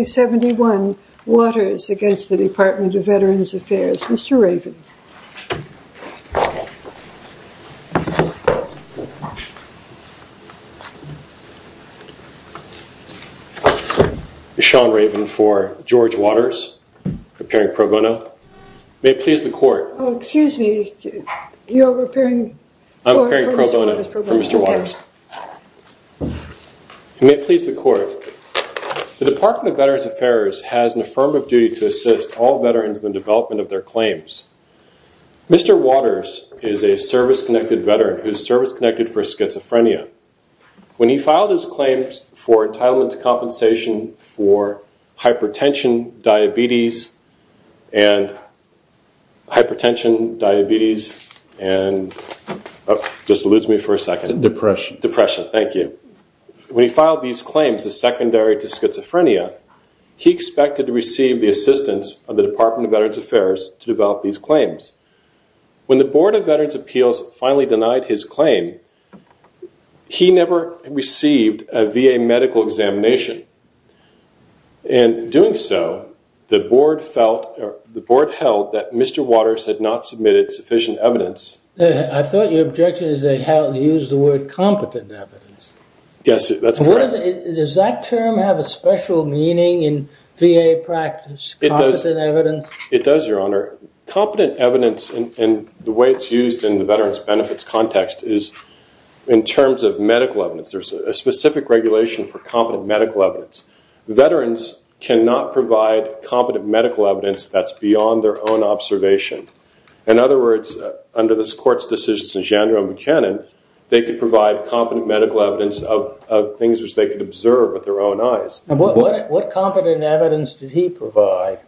71 waters against the Department of Veterans Affairs. Mr. Raven. Sean Raven for George Waters preparing pro bono. May it please the court. Oh, excuse me. You're repairing. I'm preparing pro bono for Mr. Waters. May it please the court. The Department of Veterans Affairs has an affirmative duty to assist all veterans in the development of their claims. Mr. Waters is a service connected veteran whose service connected for schizophrenia. When he filed his claims for entitlement to compensation for hypertension diabetes and hypertension depression depression. Thank you. We filed these claims as secondary to schizophrenia. He expected to receive the assistance of the Department of Veterans Affairs to develop these claims. When the Board of Veterans Appeals finally denied his claim he never received a VA medical examination and doing so the board felt the board held that Mr. Objection is they use the word competent evidence. Yes that's correct. Does that term have a special meaning in VA practice. It does. It does Your Honor. Competent evidence and the way it's used in the veterans benefits context is in terms of medical evidence. There's a specific regulation for medical evidence. Veterans cannot provide competent medical evidence that's beyond their own observation. In other words under this court's decisions in general we can and they could provide competent medical evidence of things which they could observe with their own eyes. What what competent evidence did he provide.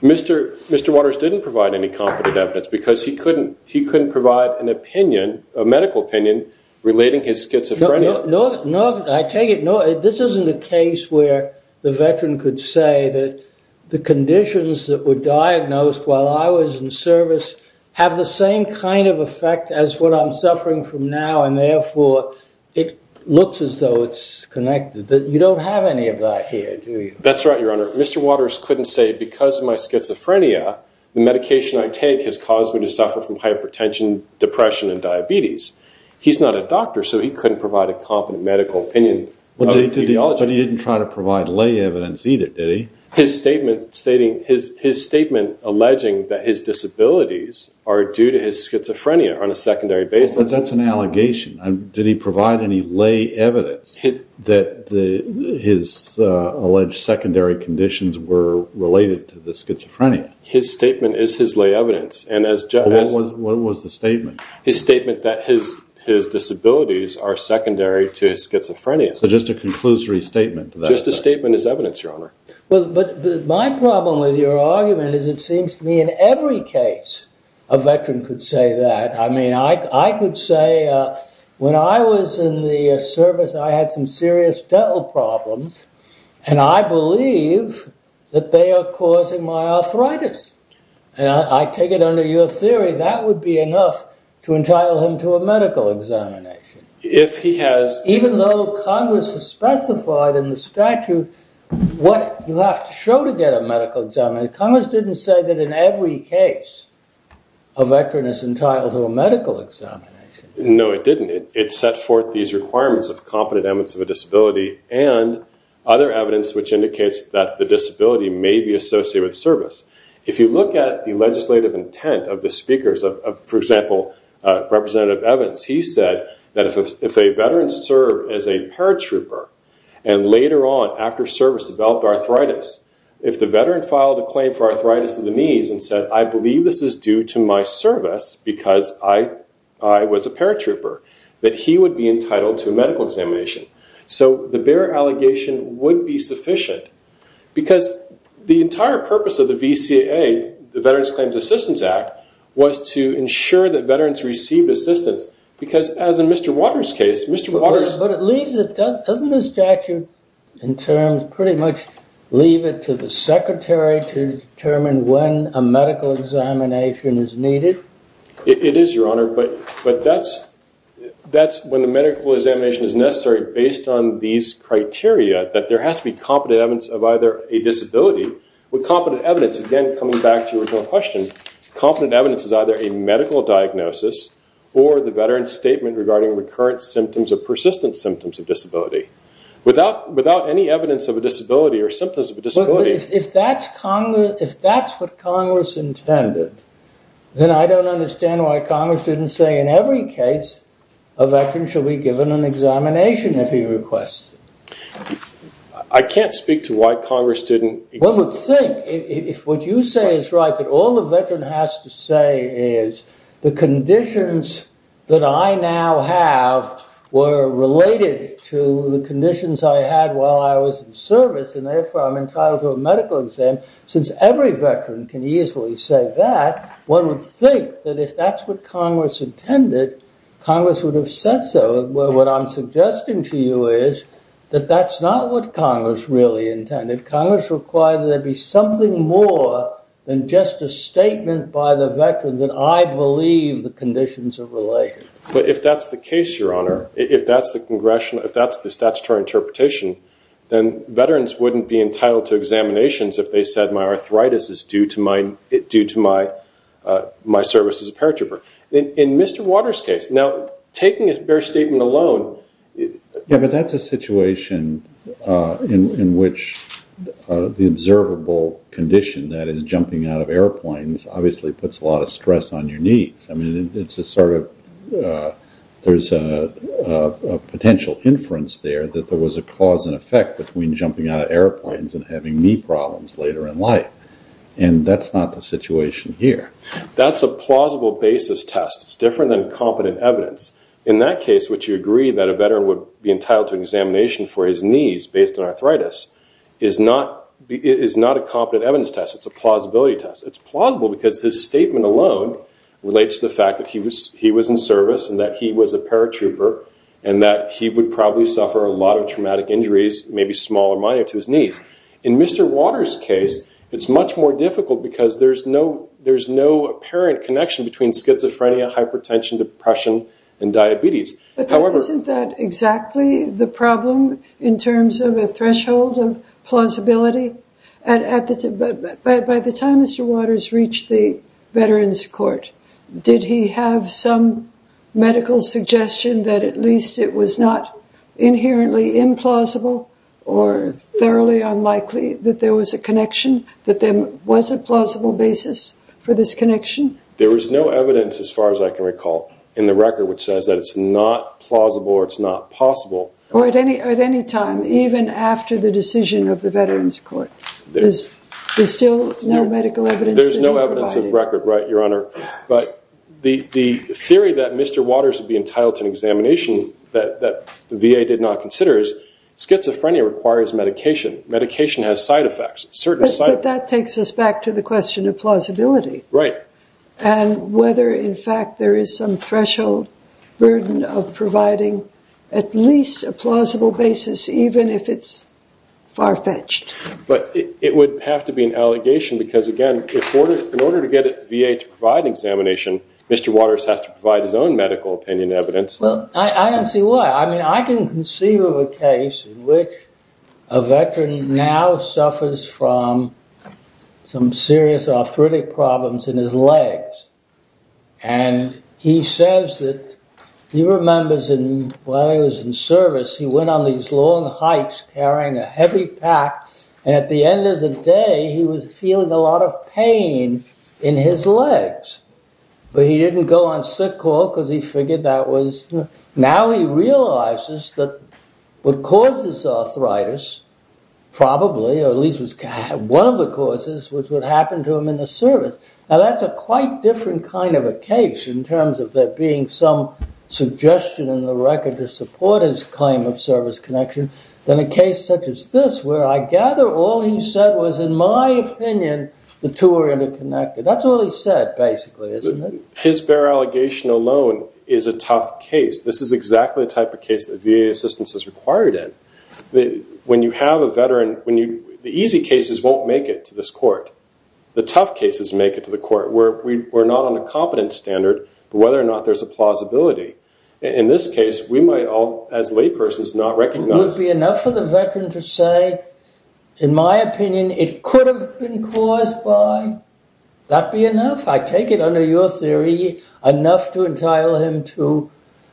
Mr. Mr. Waters didn't provide any competent evidence because he couldn't he couldn't provide an opinion a medical opinion relating his schizophrenia. No no no. I take it. No this isn't a case where the veteran could say that the conditions that were diagnosed while I was in service have the same kind of effect as what I'm suffering from now and therefore it looks as though it's connected that you don't have any of that here do you. That's right Your Honor. Mr. Waters couldn't say because of my schizophrenia the medication I take has caused me to suffer from hypertension depression and diabetes. He's not a doctor so he couldn't provide a competent medical opinion. But he didn't try to provide lay evidence either did he. His statement stating his his statement alleging that his disabilities are due to his schizophrenia on a secondary basis. That's an allegation. Did he provide any lay evidence that the His statement is his lay evidence and as what was the statement his statement that his his disabilities are secondary to his schizophrenia. So just a conclusory statement just a statement is evidence Your Honor. Well but my problem with your argument is it seems to me in every case a veteran could say that. I mean I could say when I was in the service I had some serious dental problems and I believe that they are causing my arthritis and I take it under your theory that would be enough to entitle him to a medical examination. If he has. Even though Congress has specified in the statute what you have to show to get a medical examiner. Congress didn't say that in every case a veteran is entitled to a medical examination. No it didn't. It set forth these requirements of competent evidence of a disability and other evidence which indicates that the disability may be associated with service. If you look at the legislative intent of the speakers of for example Representative Evans he said that if a veteran served as a paratrooper and later on after service developed arthritis if the veteran filed a claim for arthritis of the knees and said I believe this is due to my service because I was a paratrooper that he would be entitled to a medical examination. So the bearer allegation would be sufficient because the entire purpose of the VCA the Veterans Claims Assistance Act was to ensure that veterans received assistance because as in Mr. Waters case Mr. Waters. But it leaves it doesn't the statute in terms pretty much leave it to the secretary to determine when a medical examination is needed. It is your honor but that's that's when the medical examination is necessary based on these criteria that there has to be competent evidence of either a disability with competent evidence again coming back to your question competent evidence is either a medical diagnosis or the veteran's statement regarding recurrent symptoms or persistent symptoms of disability without without any evidence of a disability or symptoms of a disability. If that's Congress if that's what Congress intended then I don't understand why Congress didn't say in every case a veteran should be given an examination if he requests it. I can't speak to why Congress didn't. Well think if what you say is right that all the veteran has to say is the conditions that I now have were related to the conditions I had while I was in service and therefore I'm entitled to a medical exam since every veteran can easily say that one would think that if that's what Congress intended Congress would have said so. What I'm suggesting to you is that that's not what Congress really intended. Congress required there be something more than just a statement by the veteran that I believe the conditions are related. But if that's the case your honor if that's the congressional if that's the statutory interpretation then veterans wouldn't be entitled to examinations if they said my arthritis is due to my due to my my service as a paratrooper. In Mr. Waters case now taking his bare statement alone. Yeah but that's a situation in which the observable condition that is jumping out of airplanes obviously puts a lot of stress on your knees. I mean it's a sort of there's a potential inference there that there was a cause and effect between jumping out of airplanes and having knee problems later in life. And that's not the situation here. That's a plausible basis test. It's different than competent evidence. In that case which you agree that a veteran would be entitled to examination for his knees based on arthritis is not a competent evidence test. It's a plausibility test. It's plausible because his statement alone relates to the fact that he was he was in service and that he was a paratrooper and that he would probably suffer a lot of traumatic injuries maybe small or minor to his knees. In Mr. Waters case it's much more difficult because there's no there's no apparent connection between schizophrenia hypertension depression and diabetes. Isn't that exactly the problem in terms of a threshold of plausibility and by the time Mr. Waters reached the veterans court did he have some medical suggestion that at least it was not inherently implausible or thoroughly unlikely that there was a connection that there was a plausible basis for this connection. There is no evidence as far as I can recall in the record which says that it's not plausible or it's not possible. Or at any at any time even after the decision of the veterans court. There's still no medical evidence. There's no evidence of record right Your Honor. But the theory that Mr. Waters would be entitled to an examination that the VA did not consider is schizophrenia requires medication. Medication has side effects. But that takes us back to the question of plausibility. Right. And whether in fact there is some threshold burden of providing at least a plausible basis even if it's far fetched. But it would have to be an allegation because again in order to get it via providing examination Mr. Waters has to provide his own medical opinion evidence. Well I don't see why. I mean I can see a case in which a veteran now suffers from some serious arthritic problems in his legs and he says that he remembers in service he went on these long hikes carrying a heavy pack and at the end of the day he was feeling a lot of pain in his legs. But he didn't go on sick call because he figured that was. Now he realizes that what caused this arthritis probably or at least was one of the causes which would happen to him in the service. Now that's a quite different kind of a case in terms of that being some suggestion in the record to support his claim of service connection than a case such as this where I gather all he said was in my opinion the two are interconnected. That's all he said basically. His bare allegation alone is a tough case. This is exactly the type of case that VA assistance is required in. When you have a veteran when you the easy cases won't make it to this court. The tough cases make it to the court where we're not on a competent standard whether or not there's a plausibility. In this case we might all as laypersons not recognize. Would it be enough for the veteran to say in my opinion it could have been caused by. That be enough. I take it under your theory enough to entitle him to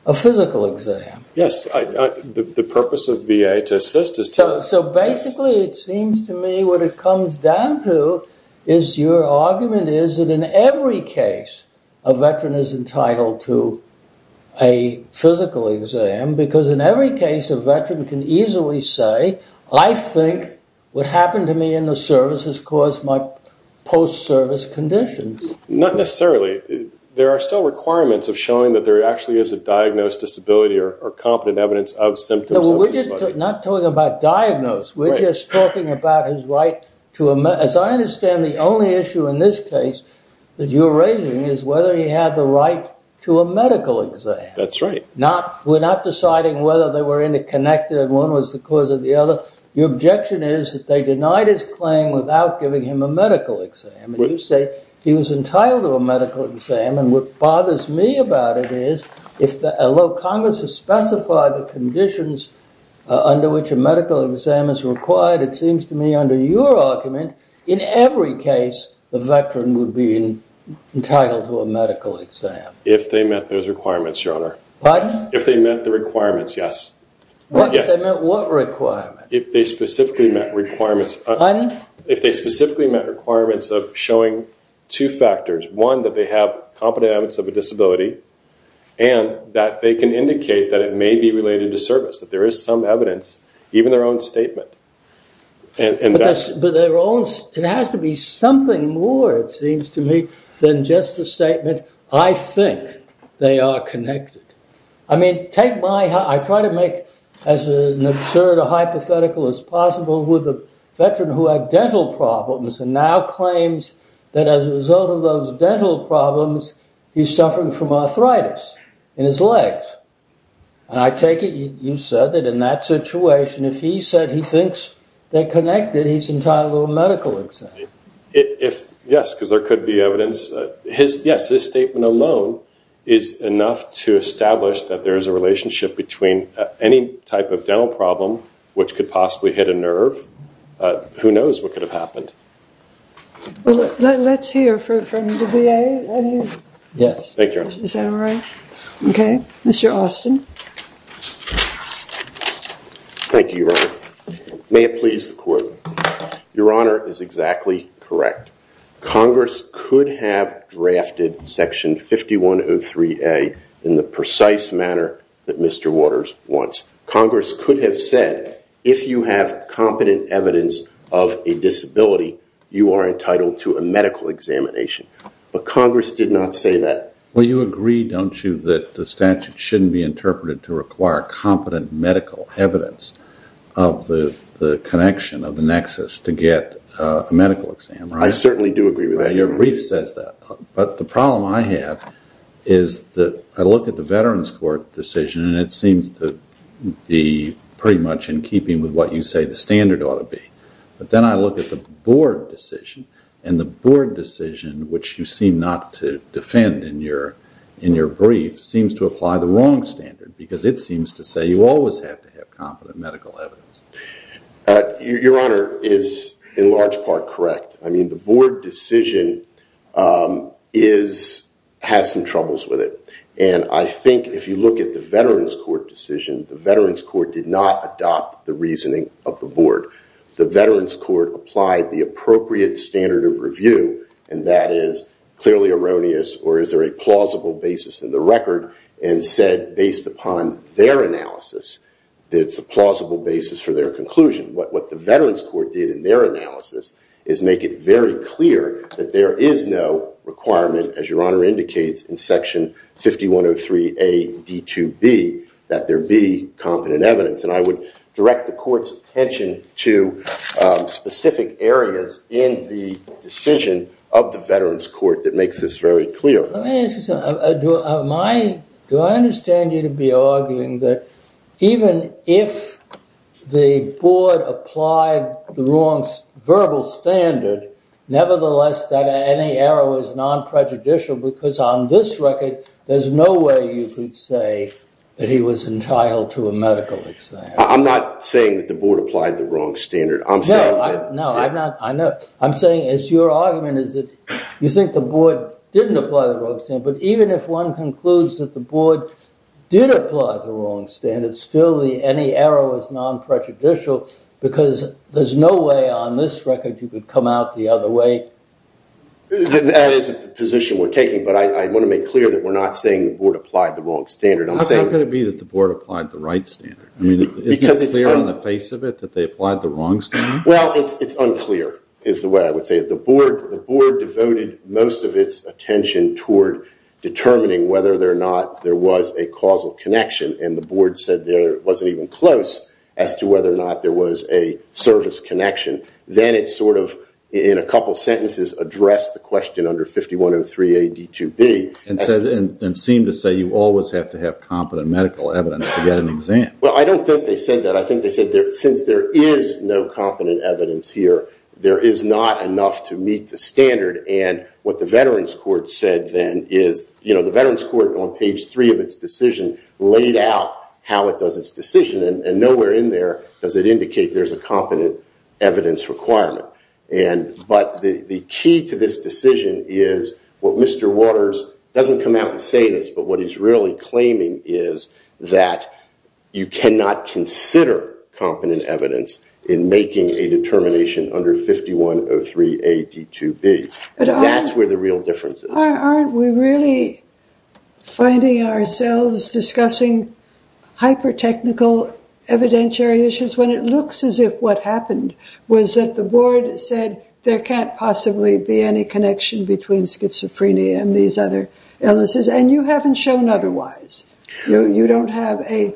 a physical exam. Yes. The purpose of VA to assist is to. So basically it seems to me what it comes down to is your argument is that in every case a veteran is entitled to a physical exam because in every case a veteran can easily say I think what happened to me in the service has caused my post service condition. Not necessarily. There are still requirements of showing that there actually is a diagnosed disability or competent evidence of symptoms. We're not talking about diagnose. We're just talking about his right to. As I understand the only issue in this case that you're raising is whether he had the right to a medical exam. That's right. Not we're not deciding whether they were interconnected and one was the cause of the other. Your objection is that they denied his claim without giving him a medical exam. You say he was entitled to a medical exam. And what bothers me about it is if the low Congress has specified the conditions under which a medical exam is required. It seems to me under your argument in every case the veteran would be entitled to a medical exam if they met those requirements your honor. But if they met the requirements yes. If they specifically met requirements if they specifically met requirements of showing two factors one that they have competent evidence of a disability and that they can indicate that it may be related to service. That there is some evidence even their own statement. It has to be something more it seems to me than just a statement I think they are connected. I mean take my I try to make as an absurd a hypothetical as possible with a veteran who had dental problems and now claims that as a result of those dental problems he's suffering from arthritis in his legs. And I take it you said that in that situation if he said he thinks they're connected he's entitled to a medical exam. If yes because there could be evidence his yes this statement alone is enough to establish that there is a relationship between any type of dental problem which could possibly hit a nerve. Who knows what could have happened. Let's hear from the VA. Yes. Thank you. All right. Okay. Mr. Austin Thank you. May it please the court. Your honor is exactly correct. Congress could have drafted section 5103A in the precise manner that Mr. Waters wants. Congress could have said if you have competent evidence of a disability you are entitled to a medical examination. But to require competent medical evidence of the connection of the nexus to get a medical exam. I certainly do agree with that. Your brief says that but the problem I have is that I look at the Veterans Court decision and it seems to be pretty much in keeping with what you say the standard ought to be. But then I look at the board decision and the board decision which you seem not to defend in your in your brief seems to apply the wrong standard because it seems to say you always have to have competent medical evidence. Your honor is in large part correct. I mean the board decision is has some troubles with it. And I think if you look at the Veterans Court decision the Veterans Court did not adopt the reasoning of the board. The Veterans Court did not adopt the reasoning of the board. The Veterans Court did not adopt the reasoning of the board. And I think it's a plausible basis for their conclusion. What the Veterans Court did in their analysis is make it very clear that there is no requirement as your honor indicates in section 5103A, D2B that there be competent evidence. And I would direct the court's attention to specific areas in the decision of the Veterans Court that makes this very clear. Do I understand you to be arguing that even if the board applied the wrong verbal standard nevertheless that any error was non prejudicial on this record there's no way you could say that he was entitled to a medical exam. I'm not saying that the board applied the wrong standard. I'm saying it's your argument is that you think the board didn't apply the wrong standard. But even if one concludes that the board did apply the wrong standard still any error was non prejudicial because there's no way on this record that you could come out the other way. That is a position we're taking but I want to make clear that we're not saying the board applied the wrong standard. How can it be that the board applied the right standard? Is it clear on the face of it that they applied the wrong standard? Well it's unclear is the way I would say it. The board devoted most of its attention toward determining whether or not there was a causal connection and the board said there wasn't even close as to whether or not there was a service connection. Then it sort of in a couple sentences addressed the question under 5103 AD2B. And seemed to say you always have to have competent medical evidence to get an exam. Well I don't think they said that. I think they said since there is no competent evidence here there is not enough to meet the standard and what the veterans court said then is the veterans court on page 3 of its decision laid out how it does its decision and nowhere in there does it indicate there is a competent evidence requirement. But the key to this decision is what Mr. Waters doesn't come out and say this but what he's really claiming is that you cannot consider competent evidence in making a determination under 5103 AD2B. That's where the real difference is. Aren't we really finding ourselves discussing hyper technical evidentiary issues when it looks as if what happened was that the board said there can't possibly be any connection between schizophrenia and these other illnesses and you haven't shown otherwise. You don't have a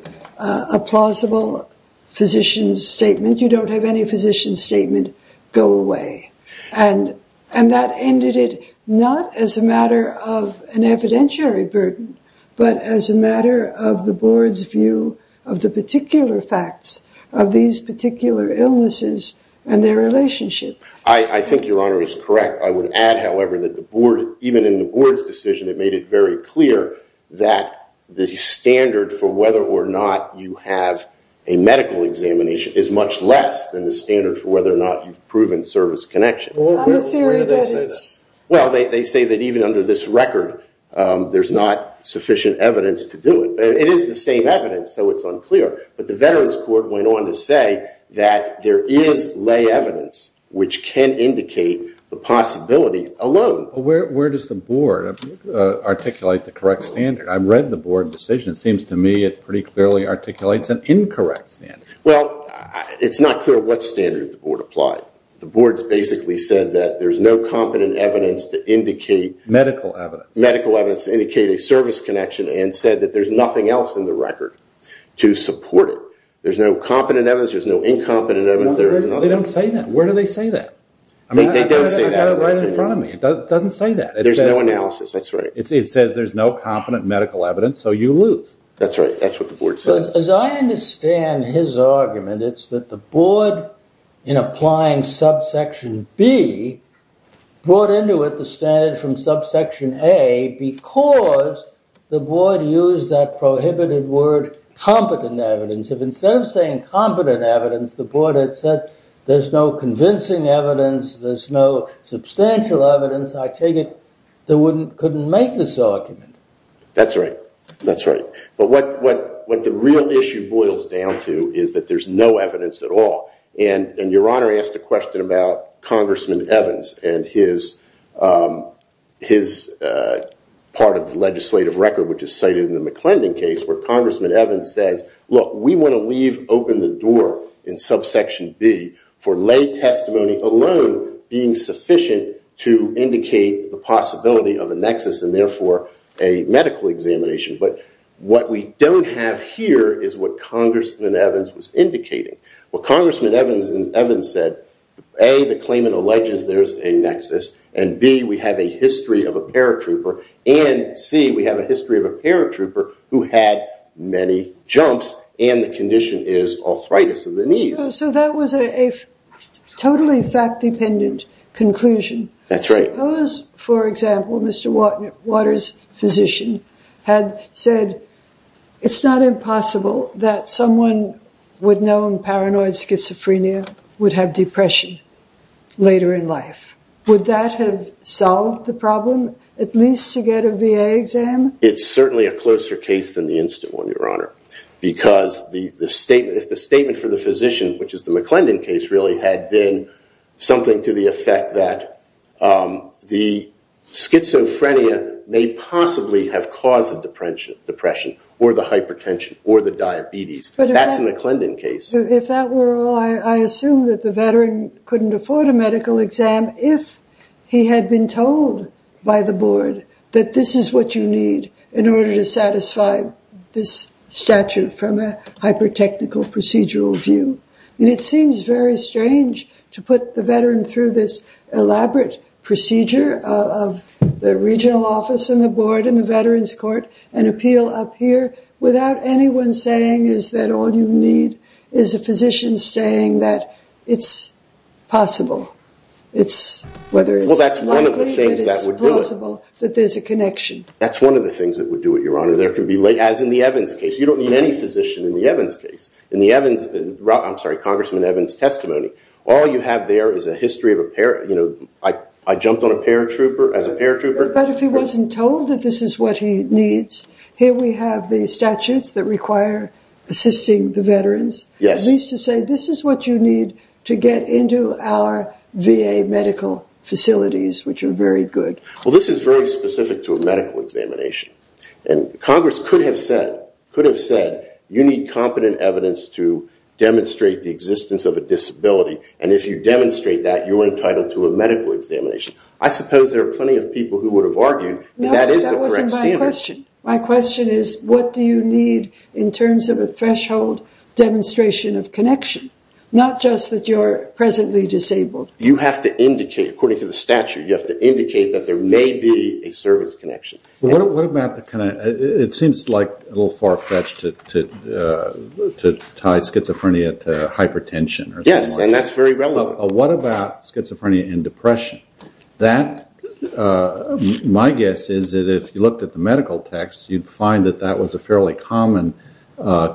plausible physician's statement. You don't have any physician's statement. Go away. And that ended it not as a matter of an evidentiary burden but as a matter of the board's view of the particular facts of these particular illnesses and their relationship. I think your honor is correct. I would add however that even in the board's decision it made it very clear that the standard for whether or not you have a medical examination is much less than the standard for whether or not you've proven service connection. Well they say that even under this record there's not sufficient evidence to do it. It is the same evidence so it's unclear. But the veterans court went on to say that there is lay evidence which can indicate the possibility alone. Where does the board articulate the correct standard? I read the board decision. It seems to me it pretty clearly articulates an incorrect standard. Well it's not clear what standard the board applied. The board basically said that there's no competent evidence to indicate medical evidence to indicate a service connection and said that there's nothing else in the record to support it. There's no incompetent evidence. They don't say that. Where do they say that? They don't say that. Right in front of me. It doesn't say that. There's no analysis. That's right. It says there's no competent medical evidence so you lose. That's right. That's what the board says. As I understand his argument it's that the board in applying subsection B brought into it the standard from subsection A because the board used that prohibited word competent evidence. Instead of saying competent evidence the board had said there's no convincing evidence. There's no substantial evidence. I take it they couldn't make this argument. That's right. That's right. But what the real issue boils down to is that there's no evidence at all. And your honor asked a question about Congressman Evans and his part of the legislative record which is cited in the McClendon case where Congressman Evans says look we want to leave open the door in subsection B for lay testimony alone being sufficient to indicate the possibility of a nexus and therefore a medical examination. But what we don't have here is what Congressman Evans was indicating. What Congressman Evans said A the claimant alleges there's a nexus and B we have a history of a paratrooper and C we have a history of a paratrooper who had many jumps and the condition is arthritis of the knees. So that was a totally fact dependent conclusion. That's right. Suppose for example Mr. Waters physician had said it's not impossible that someone with known paranoid schizophrenia would have depression later in life. Would that have solved the problem at least to get a VA exam. It's certainly a closer case than the instant one your honor because the statement if the statement for the physician which is the McClendon case really had been something to the effect that the schizophrenia may possibly have caused the depression or the hypertension or the diabetes. That's in the McClendon case. If that were all I assume that the veteran couldn't afford a medical exam if he had been told by the board that this is what you need in order to satisfy this statute from a hyper technical procedural view. It seems very strange to the regional office and the board and the veterans court and appeal up here without anyone saying is that all you need is a physician saying that it's possible it's whether it's possible that there's a connection. That's one of the things that would do it your honor there could be late as in the Evans case you don't need any physician in the Evans case in the Evans I'm sorry Congressman Evans testimony all you have there is a history of I jumped on a paratrooper as a paratrooper but if he wasn't told that this is what he needs here we have the statutes that require assisting the veterans at least to say this is what you need to get into our VA medical facilities which are very good. Well this is very specific to a medical examination and Congress could have said you need competent evidence to demonstrate the existence of a disability and if you demonstrate that you're entitled to a medical examination. I suppose there are plenty of people who would have argued that is the correct standard. My question is what do you need in terms of a threshold demonstration of connection not just that you're presently disabled. You have to indicate according to the statute you have to indicate that there may be a service connection. What about the kind of it seems like a little far fetched to tie schizophrenia to hypertension. Yes and that's very relevant. What about schizophrenia and depression that my guess is that if you looked at the medical text you'd find that that was a fairly common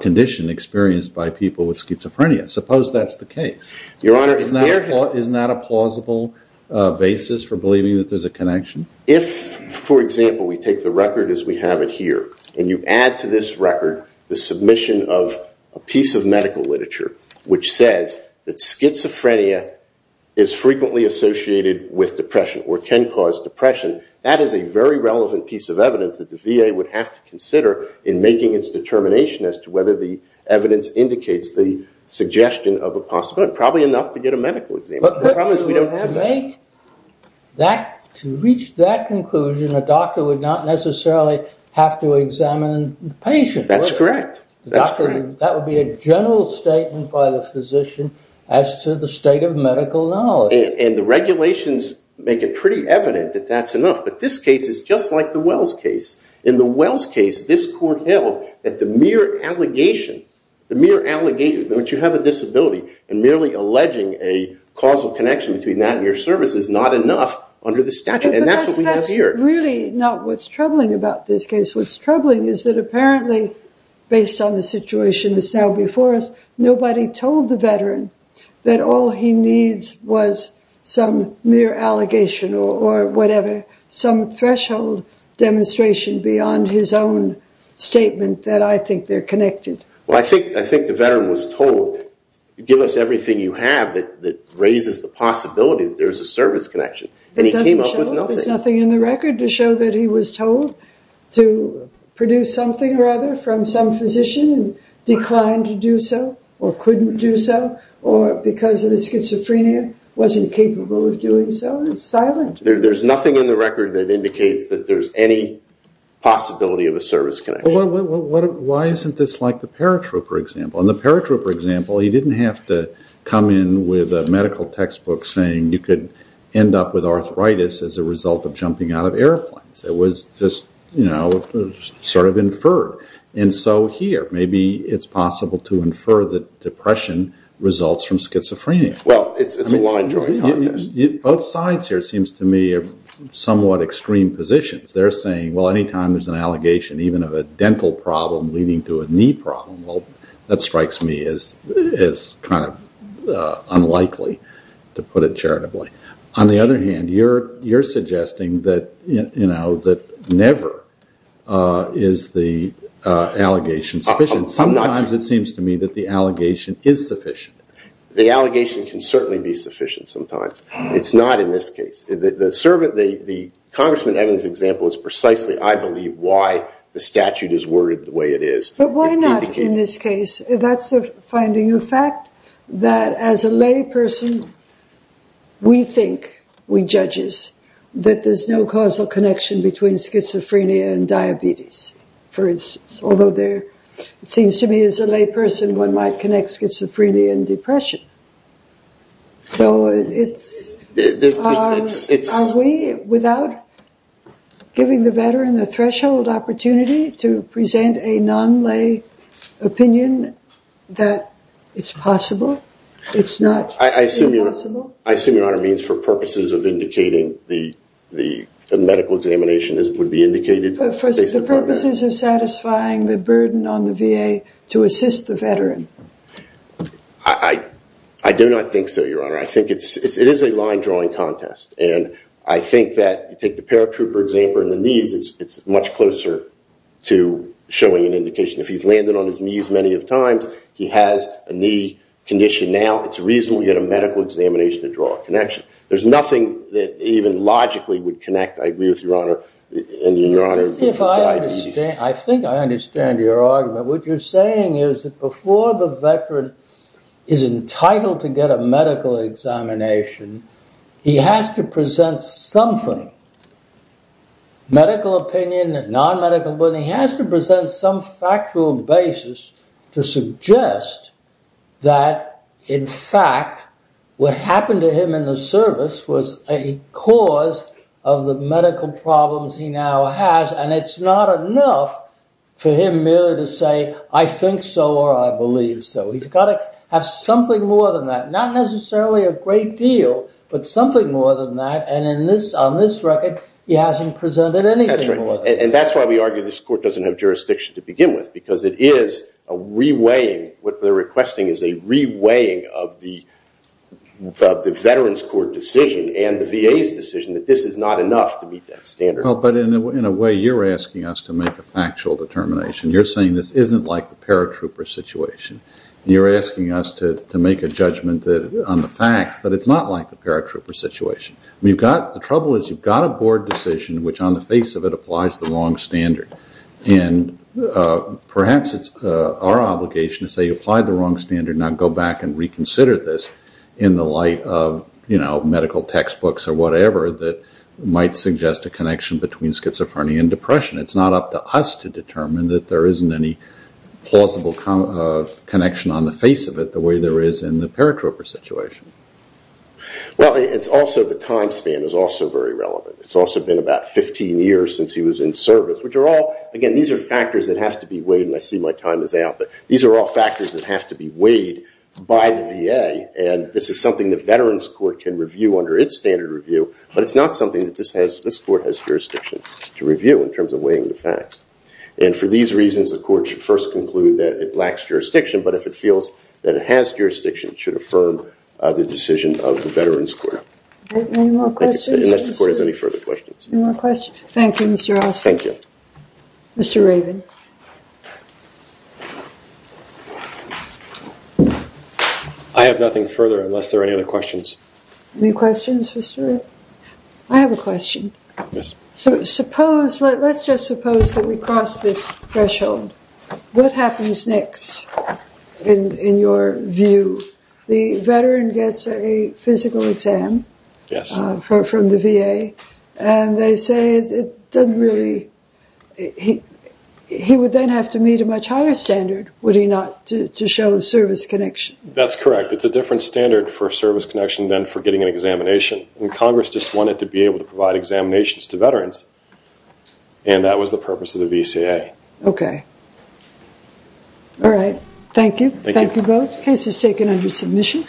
condition experienced by people with schizophrenia. Suppose that's the case. Your honor there is not a plausible basis for believing that there's a connection. If for example we take the record as we have it here and you add to this record the submission of a piece of medical literature which says that schizophrenia is frequently associated with depression or can cause depression. That is a very relevant piece of evidence that the VA would have to consider in making its determination as to whether the evidence indicates the suggestion of a possible and probably enough to get a medical exam. But to reach that conclusion a doctor would not necessarily have to examine the patient. That's correct. That would be a general statement by the physician as to the state of medical knowledge and the regulations make it pretty evident that that's enough. But this case is just like the Wells case. In the Wells case this court held that the mere allegation that you have a disability and merely alleging a causal connection between that and your service is not enough under the statute. And that's what we have here. That's really not what's troubling about this case. What's troubling is that apparently based on the situation that's now before us nobody told the veteran that all he needs was some mere allegation or whatever, some threshold demonstration beyond his own statement that I think they're connected. Well, I think the veteran was told give us everything you have that raises the possibility that there's a service connection. And he came up with nothing. There's nothing in the record to show that he was told to produce something or other from some physician and wasn't capable of doing so. It's silent. There's nothing in the record that indicates that there's any possibility of a service connection. Why isn't this like the paratrooper example? In the paratrooper example he didn't have to come in with a medical textbook saying you could end up with arthritis as a result of jumping out of airplanes. It was just sort of inferred. And so here maybe it's a line drawing contest. Both sides here seems to me are somewhat extreme positions. They're saying, well, any time there's an allegation even of a dental problem leading to a knee problem, well, that strikes me as kind of unlikely to put it charitably. On the other hand, you're suggesting that never is the allegation sufficient. Sometimes it seems to me that the allegation is sufficient. The allegation can certainly be sufficient sometimes. It's not in this case. The Congressman Evans example is precisely, I believe, why the statute is worded the way it is. But why not in this case? That's a finding of fact that as a lay person we think, we judges, that there's no causal connection between schizophrenia and diabetes, for instance, although it seems to me as a lay person one might connect schizophrenia and depression. So are we without giving the veteran the threshold opportunity to present a non-lay opinion that it's possible? It's not possible? I assume, Your Honor, it means for purposes of indicating the medical examination would be indicated. But for the purposes of satisfying the burden on the VA to assist the veteran. I do not think so, Your Honor. I think it is a line drawing contest. And I think that you take the paratrooper example and the knees, it's much closer to showing an indication. If he's landed on his knees many of times, he has a knee condition now, it's reasonable to get a medical examination to draw a connection. There's nothing that even logically would connect, I agree with Your Honor, diabetes. I think I understand your argument. What you're saying is that before the veteran is entitled to get a medical examination, he has to present something. Medical opinion, non-medical opinion, he has to present some factual basis to suggest that, in fact, what happened to him in the service was a cause of the medical problems he now has. And it's not enough for him merely to say, I think so or I believe so. He's got to have something more than that. Not necessarily a great deal, but something more than that. And on this record, he hasn't presented anything more than that. And that's why we argue this court doesn't have jurisdiction to begin with. Because it is a re-weighing, what they're requesting is a re-weighing of the veterans court decision and the VA's decision that this is not enough to meet that standard. But in a way, you're asking us to make a factual determination. You're saying this isn't like the paratrooper situation. You're asking us to make a judgment on the facts that it's not like the paratrooper situation. The trouble is you've got a board decision which on the face of it applies the wrong standard. And perhaps it's our obligation to say you applied the wrong standard, now go back and reconsider this in the light of medical textbooks or whatever that might suggest a connection between schizophrenia and depression. It's not up to us to determine that there isn't any plausible connection on the face of it the way there is in the paratrooper situation. Well, it's also the time span is also very relevant. It's also been about 15 years since he was in service, which are all, again, these are factors that have to be weighed, and I see my time is out, but these are all factors that have to be weighed by the VA. And this is something the Veterans Court can review under its standard review, but it's not something that this court has jurisdiction to review in terms of weighing the facts. And for these reasons, the court should first conclude that it lacks jurisdiction, but if it feels that it has jurisdiction, it should affirm the decision of the Veterans Court. Any more questions? Unless the court has any further questions. Any more questions? Thank you, Mr. Austin. Thank you. Mr. Raven. I have nothing further unless there are any other questions. Any questions, Mr. Raven? I have a question. Yes. Suppose, let's just suppose that we cross this threshold. What happens next in your view? The veteran gets a physical exam from the VA, and they say it doesn't really he would then have to meet a much higher standard, would he not, to show service connection? That's correct. It's a different standard for service connection than for getting an examination, and Congress just wanted to be able to provide examinations to veterans, and that was the purpose of the VCA. Okay. All right. Thank you. Thank you both. Case is taken under submission.